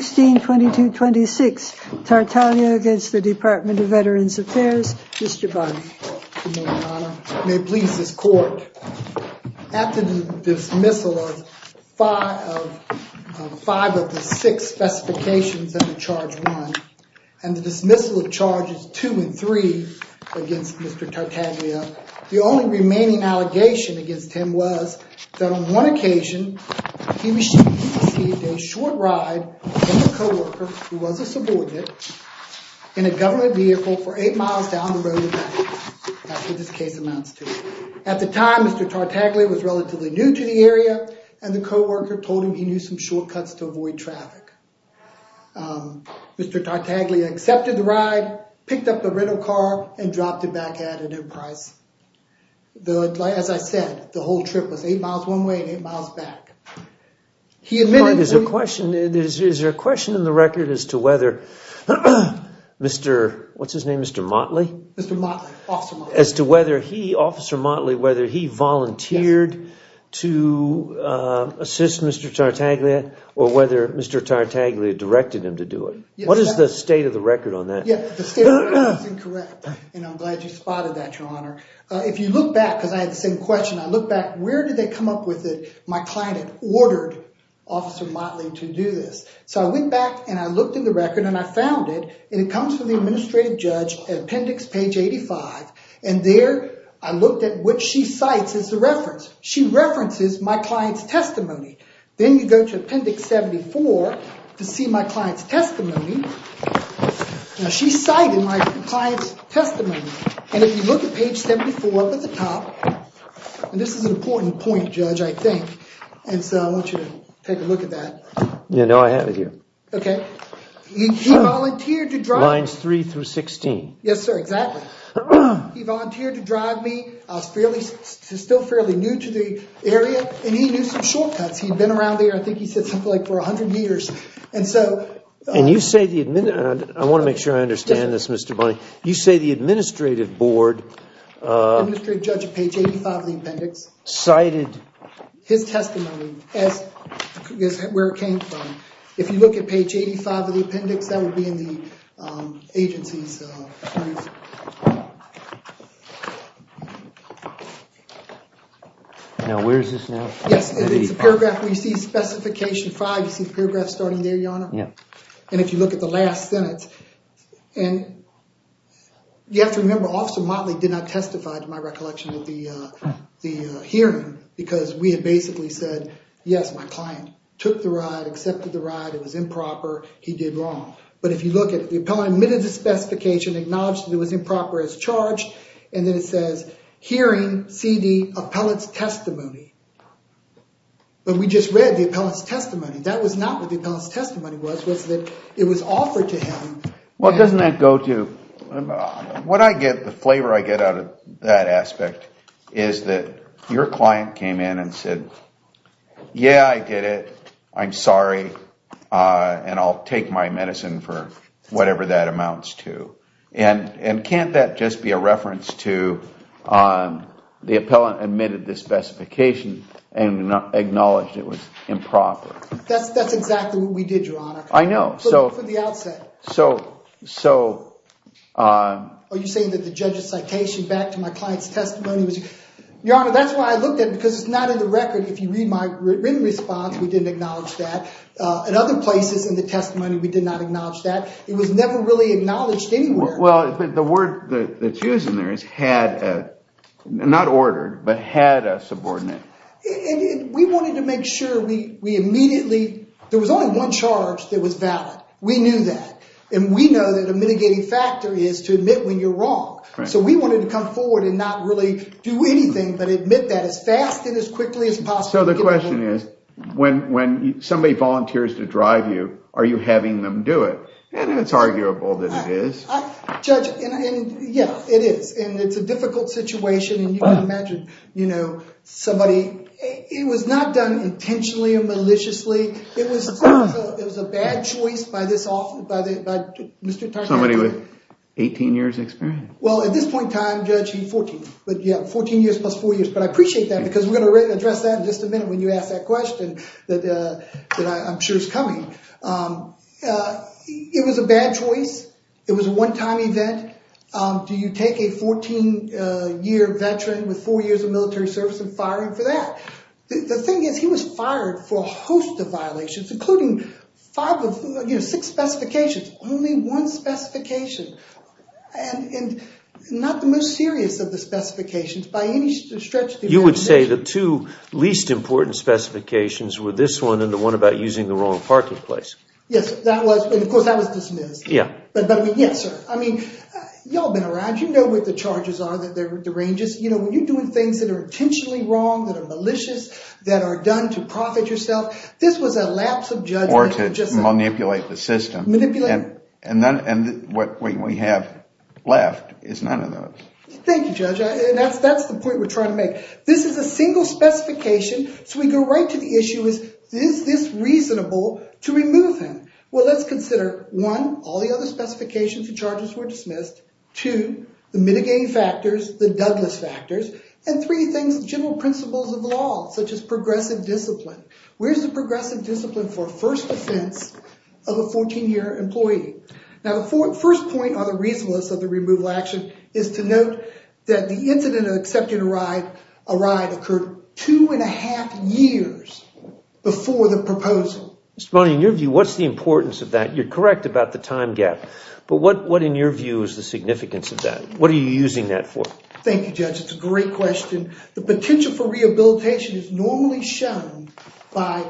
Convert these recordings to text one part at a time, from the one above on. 16-22-26 Tartaglia against the Department of Veterans Affairs. Mr. Bonney. Good morning, Your Honor. May it please this court, after the dismissal of five of the six specifications under Charge 1, and the dismissal of Charges 2 and 3 against Mr. Tartaglia, the only remaining allegation against him was that on one occasion he received a short ride from a co-worker, who was a subordinate, in a government vehicle for eight miles down the road. That's what this case amounts to. At the time, Mr. Tartaglia was relatively new to the area, and the co-worker told him he knew some shortcuts to avoid traffic. Mr. Tartaglia accepted the ride, picked up the rental car, and dropped it back at an end price. As I said, the whole trip was eight miles one way and eight miles back. Is there a question in the record as to whether Mr. Motley, whether he volunteered to assist Mr. Tartaglia, or whether Mr. Tartaglia directed him to do it? What is the state of the record on that? The state of the record is incorrect, and I'm glad you spotted that, Your Honor. If you look back, because I had the same question, I look back, where did they come up with it? My client had ordered Officer Motley to do this. So I went back and I looked in the record and I found it, and it comes from the administrative judge at appendix page 85, and there I looked at what she cites as the reference. She references my client's testimony. Then you go to appendix 74 to see my client's testimony. Now she cited my client's testimony, and if you look at page 74 up at the top, and this is an important point, Judge, I think, and so I want you to take a look at that. No, I have it here. Okay. He volunteered to drive me. Lines 3 through 16. Yes, sir, exactly. He volunteered to drive me. I was still fairly new to the area, and he knew some shortcuts. He'd been around there, I think he said something like for 100 years, and so— And you say the—I want to make sure I understand this, Mr. Bonney. You say the administrative board— Administrative judge at page 85 of the appendix. Cited— His testimony as where it came from. If you look at page 85 of the appendix, that would be in the agency's— Now where is this now? Yes, it's a paragraph where you see specification 5. You see the paragraph starting there, Your Honor? Yep. And if you look at the last sentence, and you have to remember, Officer Motley did not testify to my recollection of the hearing because we had basically said, yes, my client took the ride, accepted the ride. It was improper. He did wrong. But if you look at it, the appellant admitted the specification, acknowledged that it was improper as charged, and then it says hearing C.D. Appellant's testimony. But we just read the appellant's testimony. That was not what the appellant's testimony was, was that it was offered to him. Well, doesn't that go to— What I get, the flavor I get out of that aspect, is that your client came in and said, yeah, I get it, I'm sorry, and I'll take my medicine for whatever that amounts to. And can't that just be a reference to the appellant admitted the specification and acknowledged it was improper? That's exactly what we did, Your Honor. I know. For the outset. So— Are you saying that the judge's citation back to my client's testimony was— Your Honor, that's why I looked at it, because it's not in the record. If you read my written response, we didn't acknowledge that. In other places in the testimony, we did not acknowledge that. It was never really acknowledged anywhere. Well, the word that's used in there is had, not ordered, but had a subordinate. We wanted to make sure we immediately— There was only one charge that was valid. We knew that. And we know that a mitigating factor is to admit when you're wrong. So we wanted to come forward and not really do anything, but admit that as fast and as quickly as possible. So the question is, when somebody volunteers to drive you, are you having them do it? And it's arguable that it is. Judge, yeah, it is. And it's a difficult situation. And you can imagine, you know, somebody— It was not done intentionally or maliciously. It was a bad choice by this officer, by Mr. Tarkanian. Somebody with 18 years experience. Well, at this point in time, Judge, he's 14. But, yeah, 14 years plus four years. But I appreciate that, because we're going to address that in just a minute when you ask that question that I'm sure is coming. It was a bad choice. It was a one-time event. Do you take a 14-year veteran with four years of military service and fire him for that? The thing is, he was fired for a host of violations, including five of—you know, six specifications. Only one specification. And not the most serious of the specifications by any stretch of the imagination. You would say the two least important specifications were this one and the one about using the wrong parking place. Yes, that was—and, of course, that was dismissed. Yeah. But, I mean, yes, sir. I mean, you all have been around. You know what the charges are, that they're derangeous. You know, when you're doing things that are intentionally wrong, that are malicious, that are done to profit yourself, this was a lapse of judgment. Or to manipulate the system. Manipulate. And what we have left is none of those. Thank you, Judge. That's the point we're trying to make. This is a single specification, so we go right to the issue, is this reasonable to remove him? Well, let's consider, one, all the other specifications and charges were dismissed. Two, the mitigating factors, the Douglas factors, and three things, general principles of the law, such as progressive discipline. Where's the progressive discipline for a first offense of a 14-year employee? Now, the first point on the reasonableness of the removal action is to note that the incident of accepting a ride occurred two and a half years before the proposal. Mr. Bonney, in your view, what's the importance of that? You're correct about the time gap. But what, in your view, is the significance of that? What are you using that for? Thank you, Judge. It's a great question. The potential for rehabilitation is normally shown by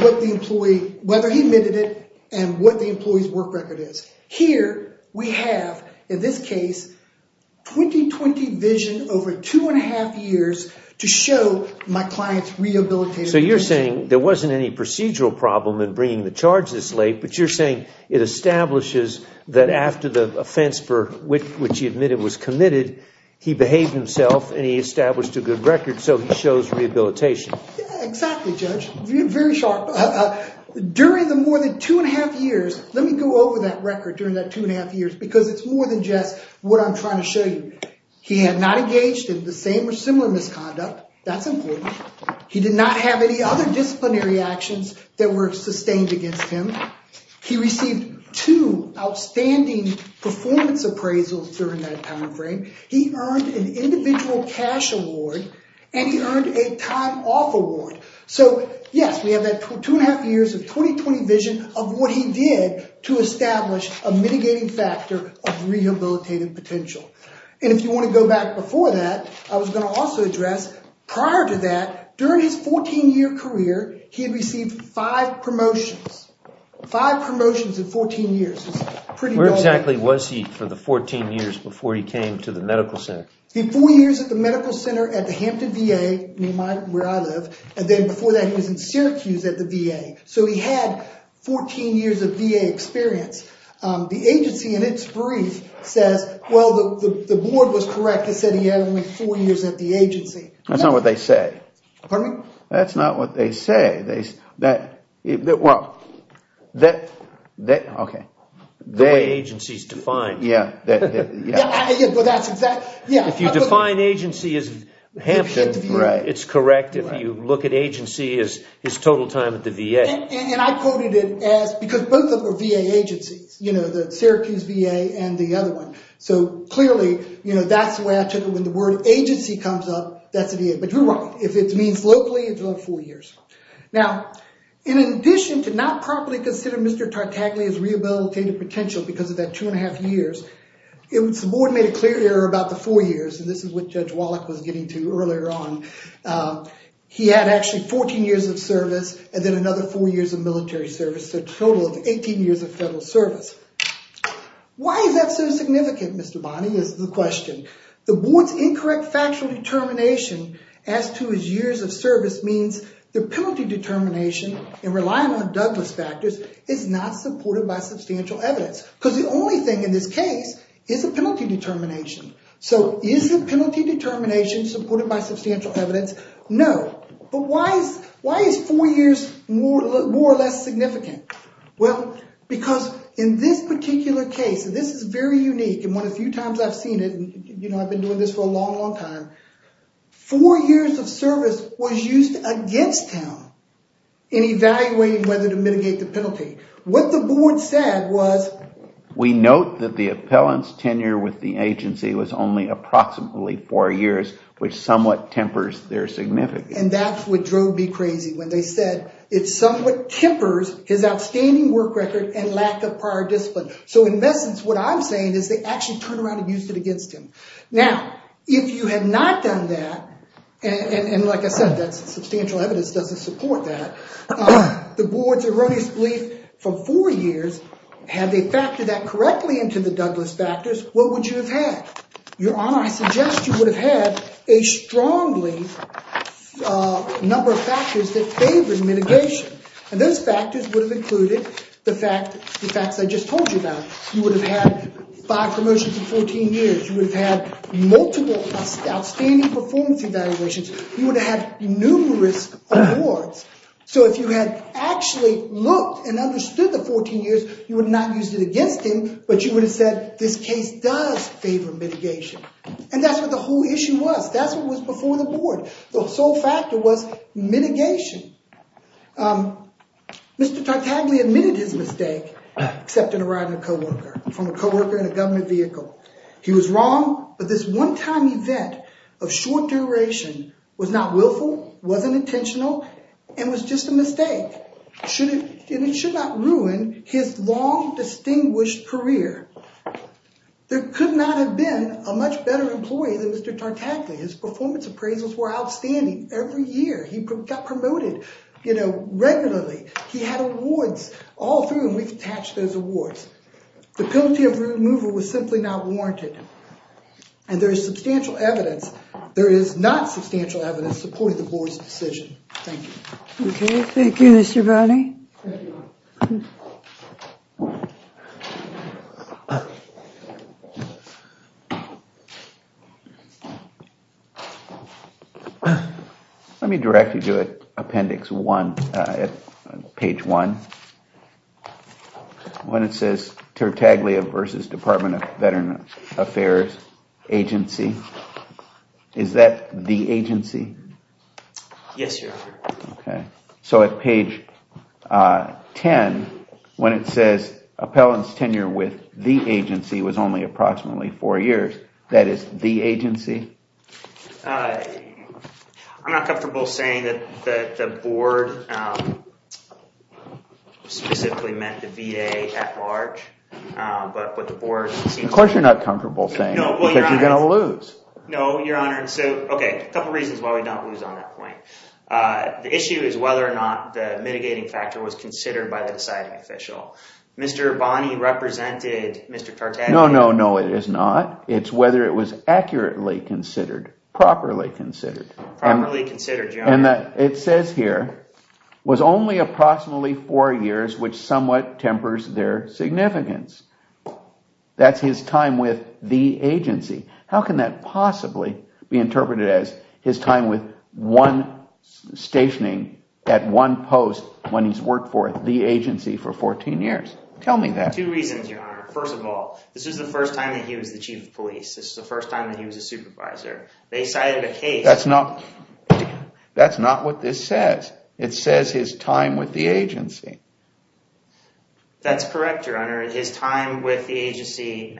what the employee, whether he admitted it, and what the employee's work record is. Here, we have, in this case, 2020 vision over two and a half years to show my client's rehabilitative condition. So you're saying there wasn't any procedural problem in bringing the charge this late, but you're saying it establishes that after the offense for which he admitted was committed, he behaved himself and he established a good record, so he shows rehabilitation. Exactly, Judge. Very sharp. During the more than two and a half years, let me go over that record during that two and a half years because it's more than just what I'm trying to show you. He had not engaged in the same or similar misconduct. That's important. He did not have any other disciplinary actions that were sustained against him. He received two outstanding performance appraisals during that time frame. He earned an individual cash award, and he earned a time off award. So, yes, we have that two and a half years of 2020 vision of what he did to establish a mitigating factor of rehabilitative potential. And if you want to go back before that, I was going to also address prior to that, during his 14-year career, he had received five promotions, five promotions in 14 years. Where exactly was he for the 14 years before he came to the medical center? Four years at the medical center at the Hampton VA, where I live, and then before that he was in Syracuse at the VA. So he had 14 years of VA experience. The agency in its brief says, well, the board was correct. It said he had only four years at the agency. That's not what they say. Pardon me? That's not what they say. Well, okay. The way agencies define. Yeah. If you define agency as Hampton, it's correct. If you look at agency as his total time at the VA. And I quoted it as because both of them are VA agencies, the Syracuse VA and the other one. So clearly that's the way I took it. When the word agency comes up, that's the VA. But you're right. If it means locally, it's about four years. Now, in addition to not properly considering Mr. Tartaglia's rehabilitative potential because of that two and a half years, the board made a clear error about the four years, and this is what Judge Wallach was getting to earlier on. He had actually 14 years of service and then another four years of military service, so a total of 18 years of federal service. Why is that so significant, Mr. Bonney, is the question. The board's incorrect factual determination as to his years of service means the penalty determination and relying on Douglas factors is not supported by substantial evidence because the only thing in this case is a penalty determination. So is the penalty determination supported by substantial evidence? No. But why is four years more or less significant? Well, because in this particular case, and this is very unique and one of the few times I've seen it, and I've been doing this for a long, long time, four years of service was used against him in evaluating whether to mitigate the penalty. What the board said was, we note that the appellant's tenure with the agency was only approximately four years, which somewhat tempers their significance. And that's what drove me crazy when they said, it somewhat tempers his outstanding work record and lack of prior discipline. So in essence, what I'm saying is they actually turned around and used it against him. Now, if you had not done that, and like I said, that substantial evidence doesn't support that, the board's erroneous belief from four years, had they factored that correctly into the Douglas factors, what would you have had? Your Honor, I suggest you would have had a strongly number of factors that favored mitigation. And those factors would have included the facts I just told you about. You would have had five promotions in 14 years. You would have had multiple outstanding performance evaluations. You would have had numerous awards. So if you had actually looked and understood the 14 years, you would not have used it against him, but you would have said, this case does favor mitigation. And that's what the whole issue was. That's what was before the board. The sole factor was mitigation. Mr. Tartagli admitted his mistake, accepting a ride in a co-worker, from a co-worker in a government vehicle. He was wrong, but this one-time event of short duration was not willful, wasn't intentional, and was just a mistake. And it should not ruin his long, distinguished career. There could not have been a much better employee than Mr. Tartagli. His performance appraisals were outstanding every year. He got promoted, you know, regularly. He had awards all through him. We've attached those awards. The penalty of removal was simply not warranted. And there is substantial evidence. There is not substantial evidence supporting the board's decision. Thank you. OK. Thank you, Mr. Browning. Thank you. Let me direct you to appendix one, page one. When it says Tartaglia versus Department of Veterans Affairs agency, is that the agency? Yes, Your Honor. OK. So at page 10, when it says appellant's tenure with the agency was only approximately four years, that is the agency? I'm not comfortable saying that the board specifically meant the VA at large. But the board seems to... Of course you're not comfortable saying that. No. Because you're going to lose. No, Your Honor. OK. A couple of reasons why we don't lose on that point. The issue is whether or not the mitigating factor was considered by the deciding official. Mr. Bonney represented Mr. Tartagli... No, no, no. It is not. It's whether it was accurately considered, properly considered. Properly considered, Your Honor. And it says here, was only approximately four years, which somewhat tempers their significance. That's his time with the agency. How can that possibly be interpreted as his time with one stationing at one post when he's worked for the agency for 14 years? Tell me that. Two reasons, Your Honor. First of all, this is the first time that he was the chief of police. This is the first time that he was a supervisor. They cited a case... That's not... That's not what this says. It says his time with the agency. That's correct, Your Honor. His time with the agency...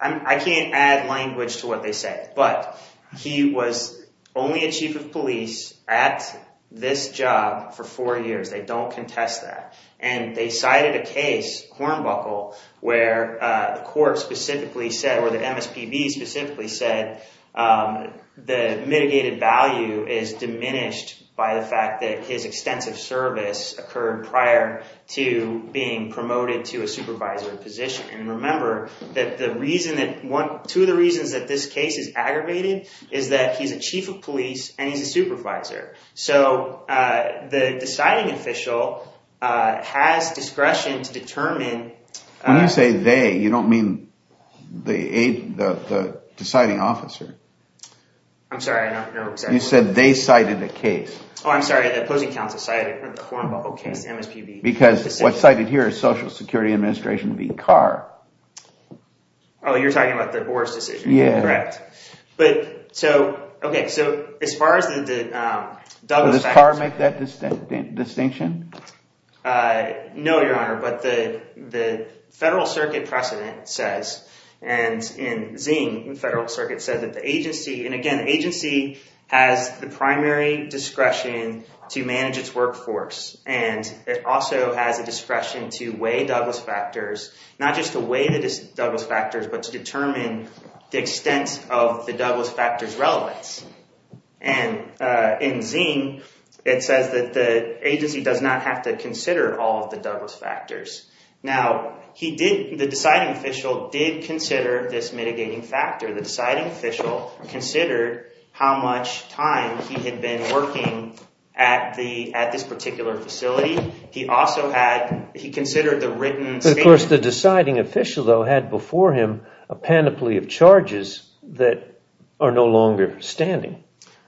I can't add language to what they say. But he was only a chief of police at this job for four years. They don't contest that. And they cited a case, Hornbuckle, where the court specifically said, or the MSPB specifically said, the mitigated value is diminished by the fact that his extensive service occurred prior to being promoted to a supervisor position. And remember that the reason that one... Two of the reasons that this case is aggravated is that he's a chief of police and he's a supervisor. So the deciding official has discretion to determine... When you say they, you don't mean the deciding officer. I'm sorry, I don't know exactly... You said they cited a case. Oh, I'm sorry, the opposing counsel cited the Hornbuckle case, MSPB. Because what's cited here is Social Security Administration v. Carr. Oh, you're talking about the Boar's decision. Yeah. Correct. Okay, so as far as the Douglas factors... Does Carr make that distinction? No, Your Honor, but the Federal Circuit precedent says, and in Zing, the Federal Circuit says that the agency... And again, the agency has the primary discretion to manage its workforce. And it also has a discretion to weigh Douglas factors, not just to weigh the Douglas factors, but to determine the extent of the Douglas factors' relevance. And in Zing, it says that the agency does not have to consider all of the Douglas factors. Now, the deciding official did consider this mitigating factor. The deciding official considered how much time he had been working at this particular facility. He also had... Of course, the deciding official, though, had before him a panoply of charges that are no longer standing.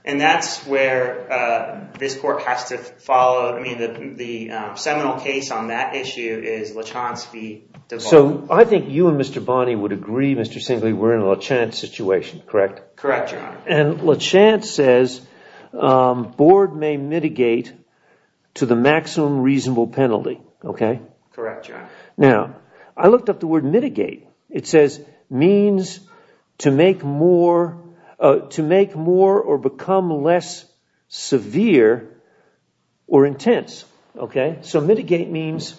And that's where this court has to follow. I mean, the seminal case on that issue is Lachance v. Duval. So I think you and Mr. Bonney would agree, Mr. Singley, we're in a Lachance situation, correct? Correct, Your Honor. And Lachance says, board may mitigate to the maximum reasonable penalty, okay? Correct, Your Honor. Now, I looked up the word mitigate. It says means to make more or become less severe or intense, okay? So mitigate means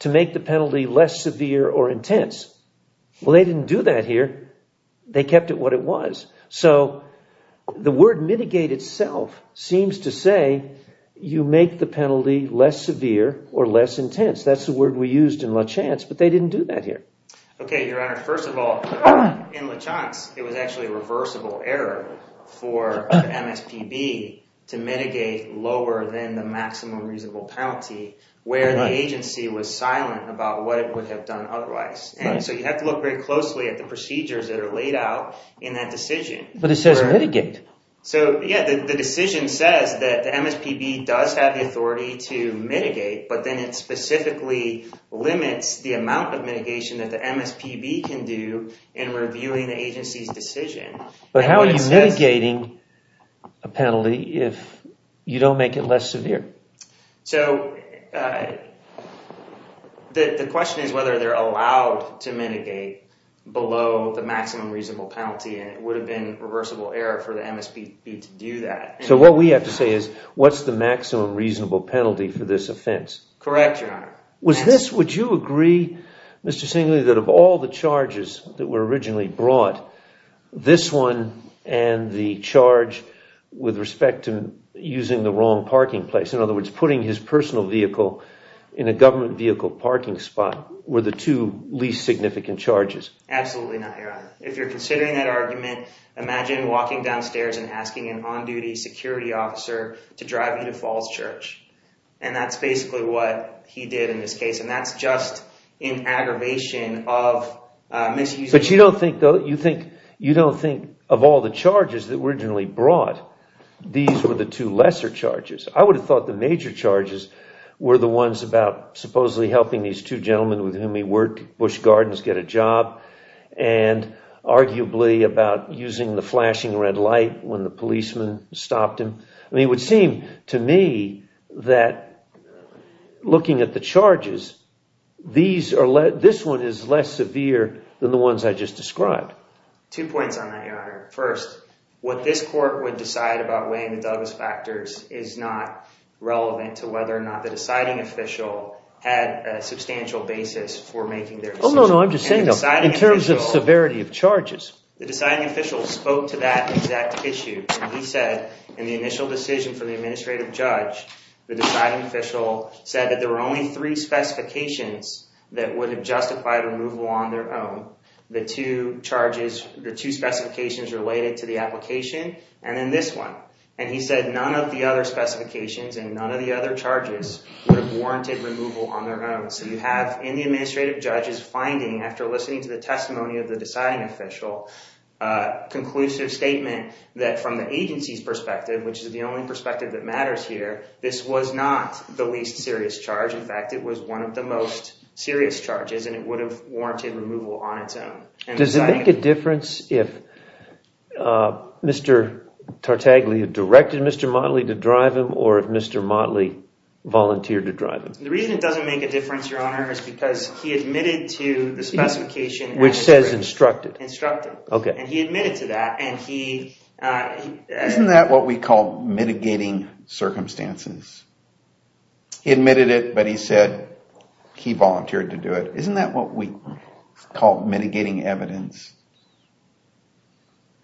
to make the penalty less severe or intense. Well, they didn't do that here. They kept it what it was. So the word mitigate itself seems to say you make the penalty less severe or less intense. That's the word we used in Lachance, but they didn't do that here. Okay, Your Honor. First of all, in Lachance, it was actually a reversible error for MSPB to mitigate lower than the maximum reasonable penalty where the agency was silent about what it would have done otherwise. So you have to look very closely at the procedures that are laid out in that decision. But it says mitigate. So, yeah, the decision says that the MSPB does have the authority to mitigate, but then it specifically limits the amount of mitigation that the MSPB can do in reviewing the agency's decision. But how are you mitigating a penalty if you don't make it less severe? So the question is whether they're allowed to mitigate below the maximum reasonable penalty, and it would have been a reversible error for the MSPB to do that. So what we have to say is what's the maximum reasonable penalty for this offense? Correct, Your Honor. Would you agree, Mr. Singley, that of all the charges that were originally brought, this one and the charge with respect to using the wrong parking place, in other words, putting his personal vehicle in a government vehicle parking spot, were the two least significant charges? Absolutely not, Your Honor. If you're considering that argument, imagine walking downstairs and asking an on-duty security officer to drive you to Falls Church. And that's basically what he did in this case, and that's just an aggravation of misusing— But you don't think of all the charges that were originally brought, these were the two lesser charges. I would have thought the major charges were the ones about supposedly helping these two gentlemen with whom he worked, helping Bush Gardens get a job, and arguably about using the flashing red light when the policeman stopped him. I mean, it would seem to me that looking at the charges, this one is less severe than the ones I just described. Two points on that, Your Honor. First, what this court would decide about weighing the Douglas factors is not relevant to whether or not the deciding official had a substantial basis for making their decision. Oh, no, no, I'm just saying that in terms of severity of charges. The deciding official spoke to that exact issue. He said in the initial decision for the administrative judge, the deciding official said that there were only three specifications that would have justified removal on their own. The two specifications related to the application, and then this one. And he said none of the other specifications and none of the other charges would have warranted removal on their own. So you have in the administrative judge's finding, after listening to the testimony of the deciding official, conclusive statement that from the agency's perspective, which is the only perspective that matters here, this was not the least serious charge. In fact, it was one of the most serious charges, and it would have warranted removal on its own. Does it make a difference if Mr. Tartaglia directed Mr. Motley to drive him or if Mr. Motley volunteered to drive him? The reason it doesn't make a difference, Your Honor, is because he admitted to the specification. Which says instructed. Instructed, and he admitted to that. Isn't that what we call mitigating circumstances? He admitted it, but he said he volunteered to do it. Isn't that what we call mitigating evidence?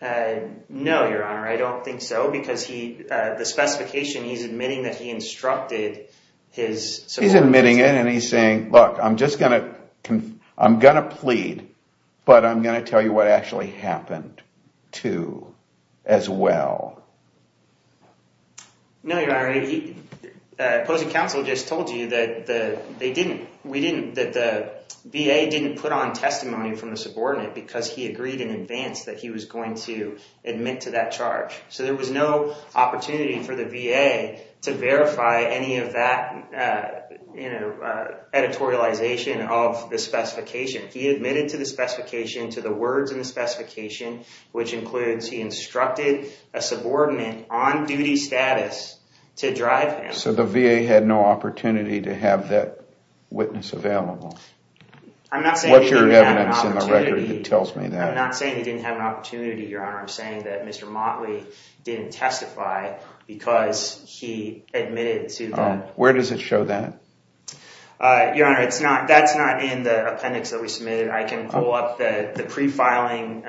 No, Your Honor, I don't think so, because the specification he's admitting that he instructed his subordinates. He's admitting it, and he's saying, look, I'm going to plead, but I'm going to tell you what actually happened, too, as well. No, Your Honor, opposing counsel just told you that the VA didn't put on testimony from the subordinate, because he agreed in advance that he was going to admit to that charge. So there was no opportunity for the VA to verify any of that editorialization of the specification. He admitted to the specification, to the words in the specification, which includes he instructed a subordinate on duty status to drive him. So the VA had no opportunity to have that witness available. I'm not saying he didn't have an opportunity. What's your evidence in the record that tells me that? I'm not saying he didn't have an opportunity, Your Honor. I'm saying that Mr. Motley didn't testify because he admitted to that. Where does it show that? Your Honor, that's not in the appendix that we submitted. I can pull up the pre-filing,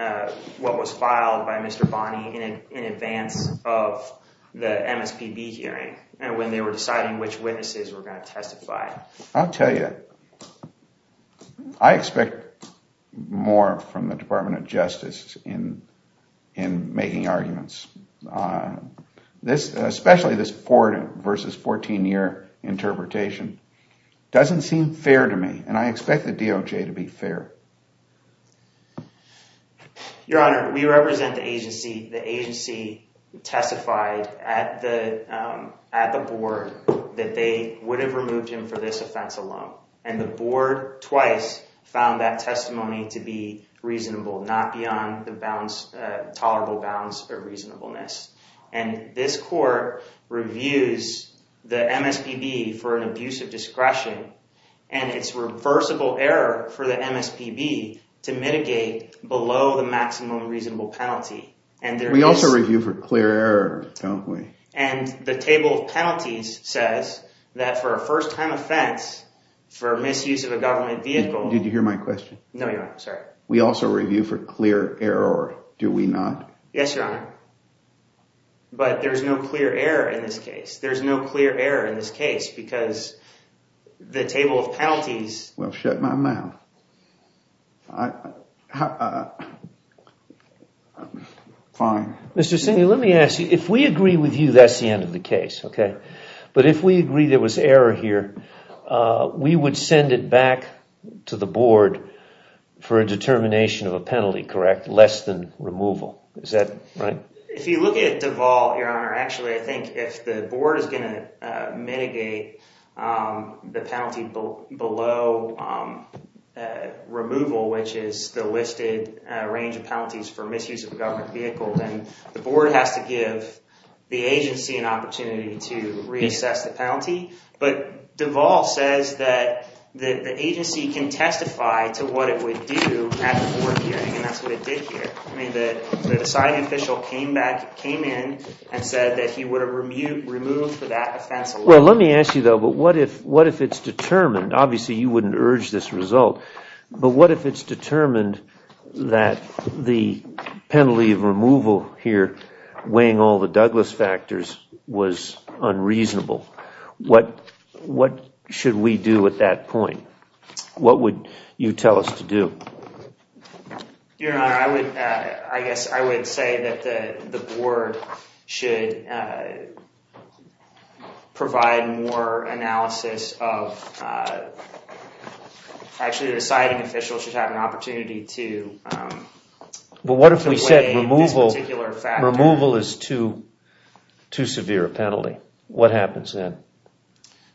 what was filed by Mr. Bonney in advance of the MSPB hearing and when they were deciding which witnesses were going to testify. I'll tell you, I expect more from the Department of Justice in making arguments. Especially this 14 versus 14-year interpretation doesn't seem fair to me, and I expect the DOJ to be fair. Your Honor, we represent the agency. The agency testified at the board that they would have removed him for this offense alone, and the board twice found that testimony to be reasonable, not beyond the tolerable bounds of reasonableness. And this court reviews the MSPB for an abuse of discretion, and it's reversible error for the MSPB to mitigate below the maximum reasonable penalty. We also review for clear error, don't we? And the table of penalties says that for a first-time offense, for misuse of a government vehicle... Did you hear my question? No, Your Honor. Sorry. We also review for clear error, do we not? Yes, Your Honor. But there's no clear error in this case. There's no clear error in this case because the table of penalties... Well, shut my mouth. Fine. Mr. Singley, let me ask you, if we agree with you, that's the end of the case, okay? But if we agree there was error here, we would send it back to the board for a determination of a penalty, correct? Less than removal. Is that right? If you look at Deval, Your Honor, actually I think if the board is going to mitigate the penalty below removal, which is the listed range of penalties for misuse of a government vehicle, then the board has to give the agency an opportunity to reassess the penalty. But Deval says that the agency can testify to what it would do at the board hearing, and that's what it did here. I mean, the side official came in and said that he would have removed for that offense... Well, let me ask you, though, but what if it's determined? Obviously, you wouldn't urge this result. But what if it's determined that the penalty of removal here, weighing all the Douglas factors, was unreasonable? What should we do at that point? What would you tell us to do? Your Honor, I guess I would say that the board should provide more analysis of... Actually, the siding official should have an opportunity to weigh this particular factor. But what if we said removal is too severe a penalty? What happens then?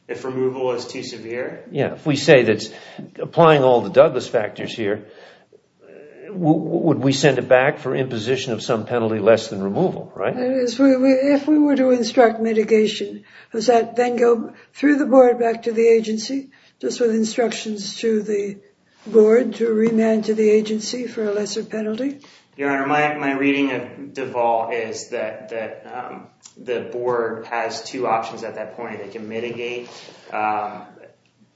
If removal is too severe? Yeah, if we say that applying all the Douglas factors here, would we send it back for imposition of some penalty less than removal, right? If we were to instruct mitigation, does that then go through the board back to the agency, just with instructions to the board to remand to the agency for a lesser penalty? Your Honor, my reading of Duval is that the board has two options at that point. They can mitigate.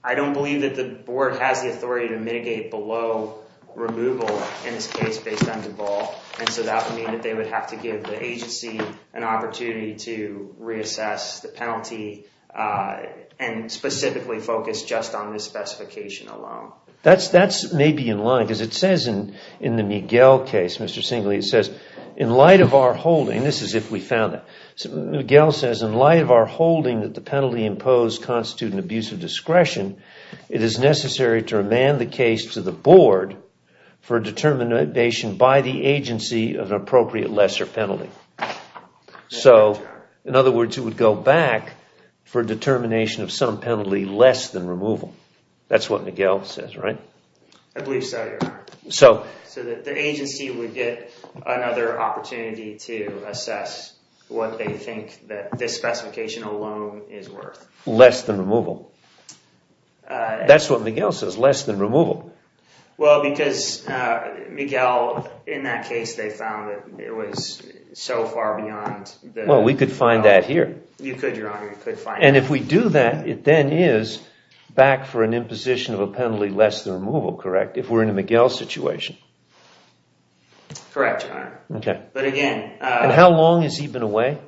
I don't believe that the board has the authority to mitigate below removal, in this case, based on Duval. And so that would mean that they would have to give the agency an opportunity to reassess the penalty and specifically focus just on this specification alone. That's maybe in line, because it says in the Miguel case, Mr. Singley, it says, in light of our holding, this is if we found it, Miguel says, in light of our holding that the penalty imposed constitutes an abuse of discretion, it is necessary to remand the case to the board for determination by the agency of an appropriate lesser penalty. So, in other words, it would go back for determination of some penalty less than removal. That's what Miguel says, right? I believe so, Your Honor. So the agency would get another opportunity to assess what they think that this specification alone is worth. Less than removal. That's what Miguel says, less than removal. Well, because Miguel, in that case, they found that it was so far beyond. Well, we could find that here. You could, Your Honor, you could find it. And if we do that, it then is back for an imposition of a penalty less than removal, correct? If we're in a Miguel situation. Correct, Your Honor. Okay. But again... And how long has he been away?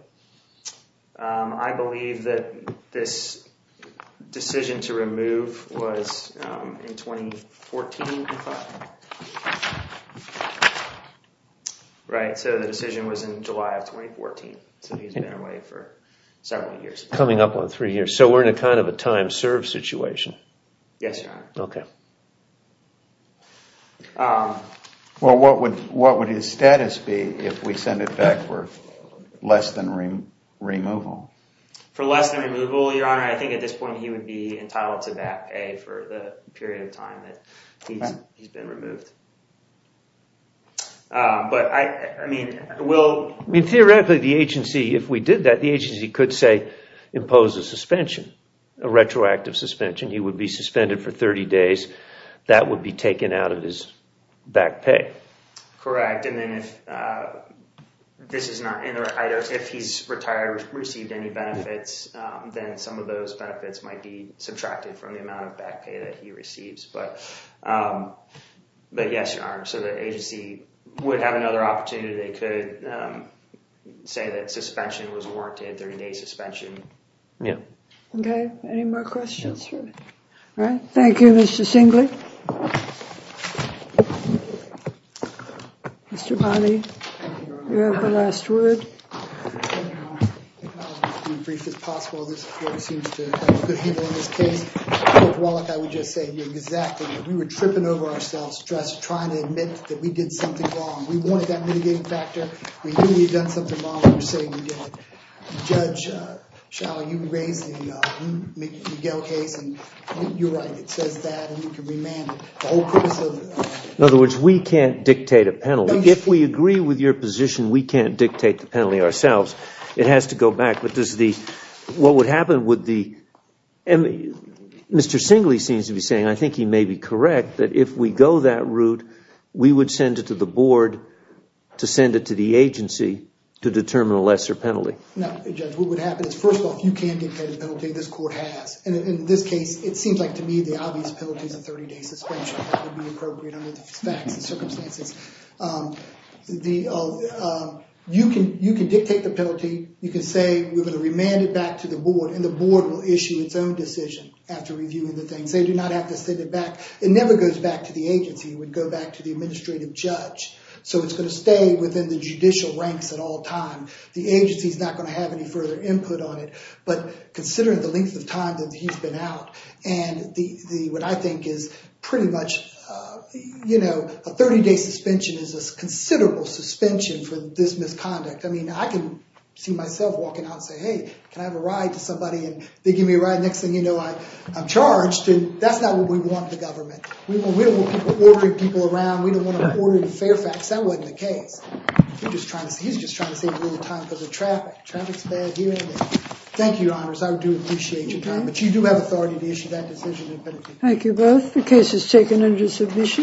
I believe that this decision to remove was in 2014, I thought. Right, so the decision was in July of 2014. So he's been away for several years. Coming up on three years. So we're in a kind of a time served situation. Yes, Your Honor. Okay. Well, what would his status be if we send it back for less than removal? For less than removal, Your Honor, I think at this point he would be entitled to back pay for the period of time that he's been removed. But I mean, will... I mean, theoretically, the agency, if we did that, the agency could say impose a suspension, a retroactive suspension. He would be suspended for 30 days. That would be taken out of his back pay. Correct. And then if this is not... If he's retired, received any benefits, then some of those benefits might be subtracted from the amount of back pay that he receives. But yes, Your Honor, so the agency would have another opportunity. They could say that suspension was warranted, 30-day suspension. Yeah. Okay. Any more questions? All right. Thank you, Mr. Singley. Mr. Bonney, you have the last word. I'll be as brief as possible. This court seems to have good people in this case. Judge Wallach, I would just say exactly that. We were tripping over ourselves just trying to admit that we did something wrong. We wanted that mitigating factor. We knew we had done something wrong. We were saying we did. Judge Schauer, you raised the Miguel case, and you're right. It says that, and you can remand it. The whole purpose of the... In other words, we can't dictate a penalty. If we agree with your position, we can't dictate the penalty ourselves. It has to go back. What would happen with the... Mr. Singley seems to be saying, and I think he may be correct, that if we go that route, we would send it to the board to send it to the agency to determine a lesser penalty. Now, Judge, what would happen is, first of all, if you can dictate a penalty, this court has. In this case, it seems like to me the obvious penalty is a 30-day suspension. You can dictate the penalty. You can say, we're going to remand it back to the board, and the board will issue its own decision after reviewing the things. They do not have to send it back. It never goes back to the agency. It would go back to the administrative judge. It's going to stay within the judicial ranks at all times. The agency is not going to have any further input on it, but considering the length of time that he's been out, and what I think is pretty much a 30-day suspension is a considerable suspension for this misconduct. I mean, I can see myself walking out and say, hey, can I have a ride to somebody, and they give me a ride. Next thing you know, I'm charged. That's not what we want in the government. We don't want people ordering people around. We don't want them ordering Fairfax. That wasn't the case. He's just trying to save a little time because of traffic. Traffic's bad here. Thank you, Your Honors. I do appreciate your time. But you do have authority to issue that decision. Thank you both. The case is taken under submission.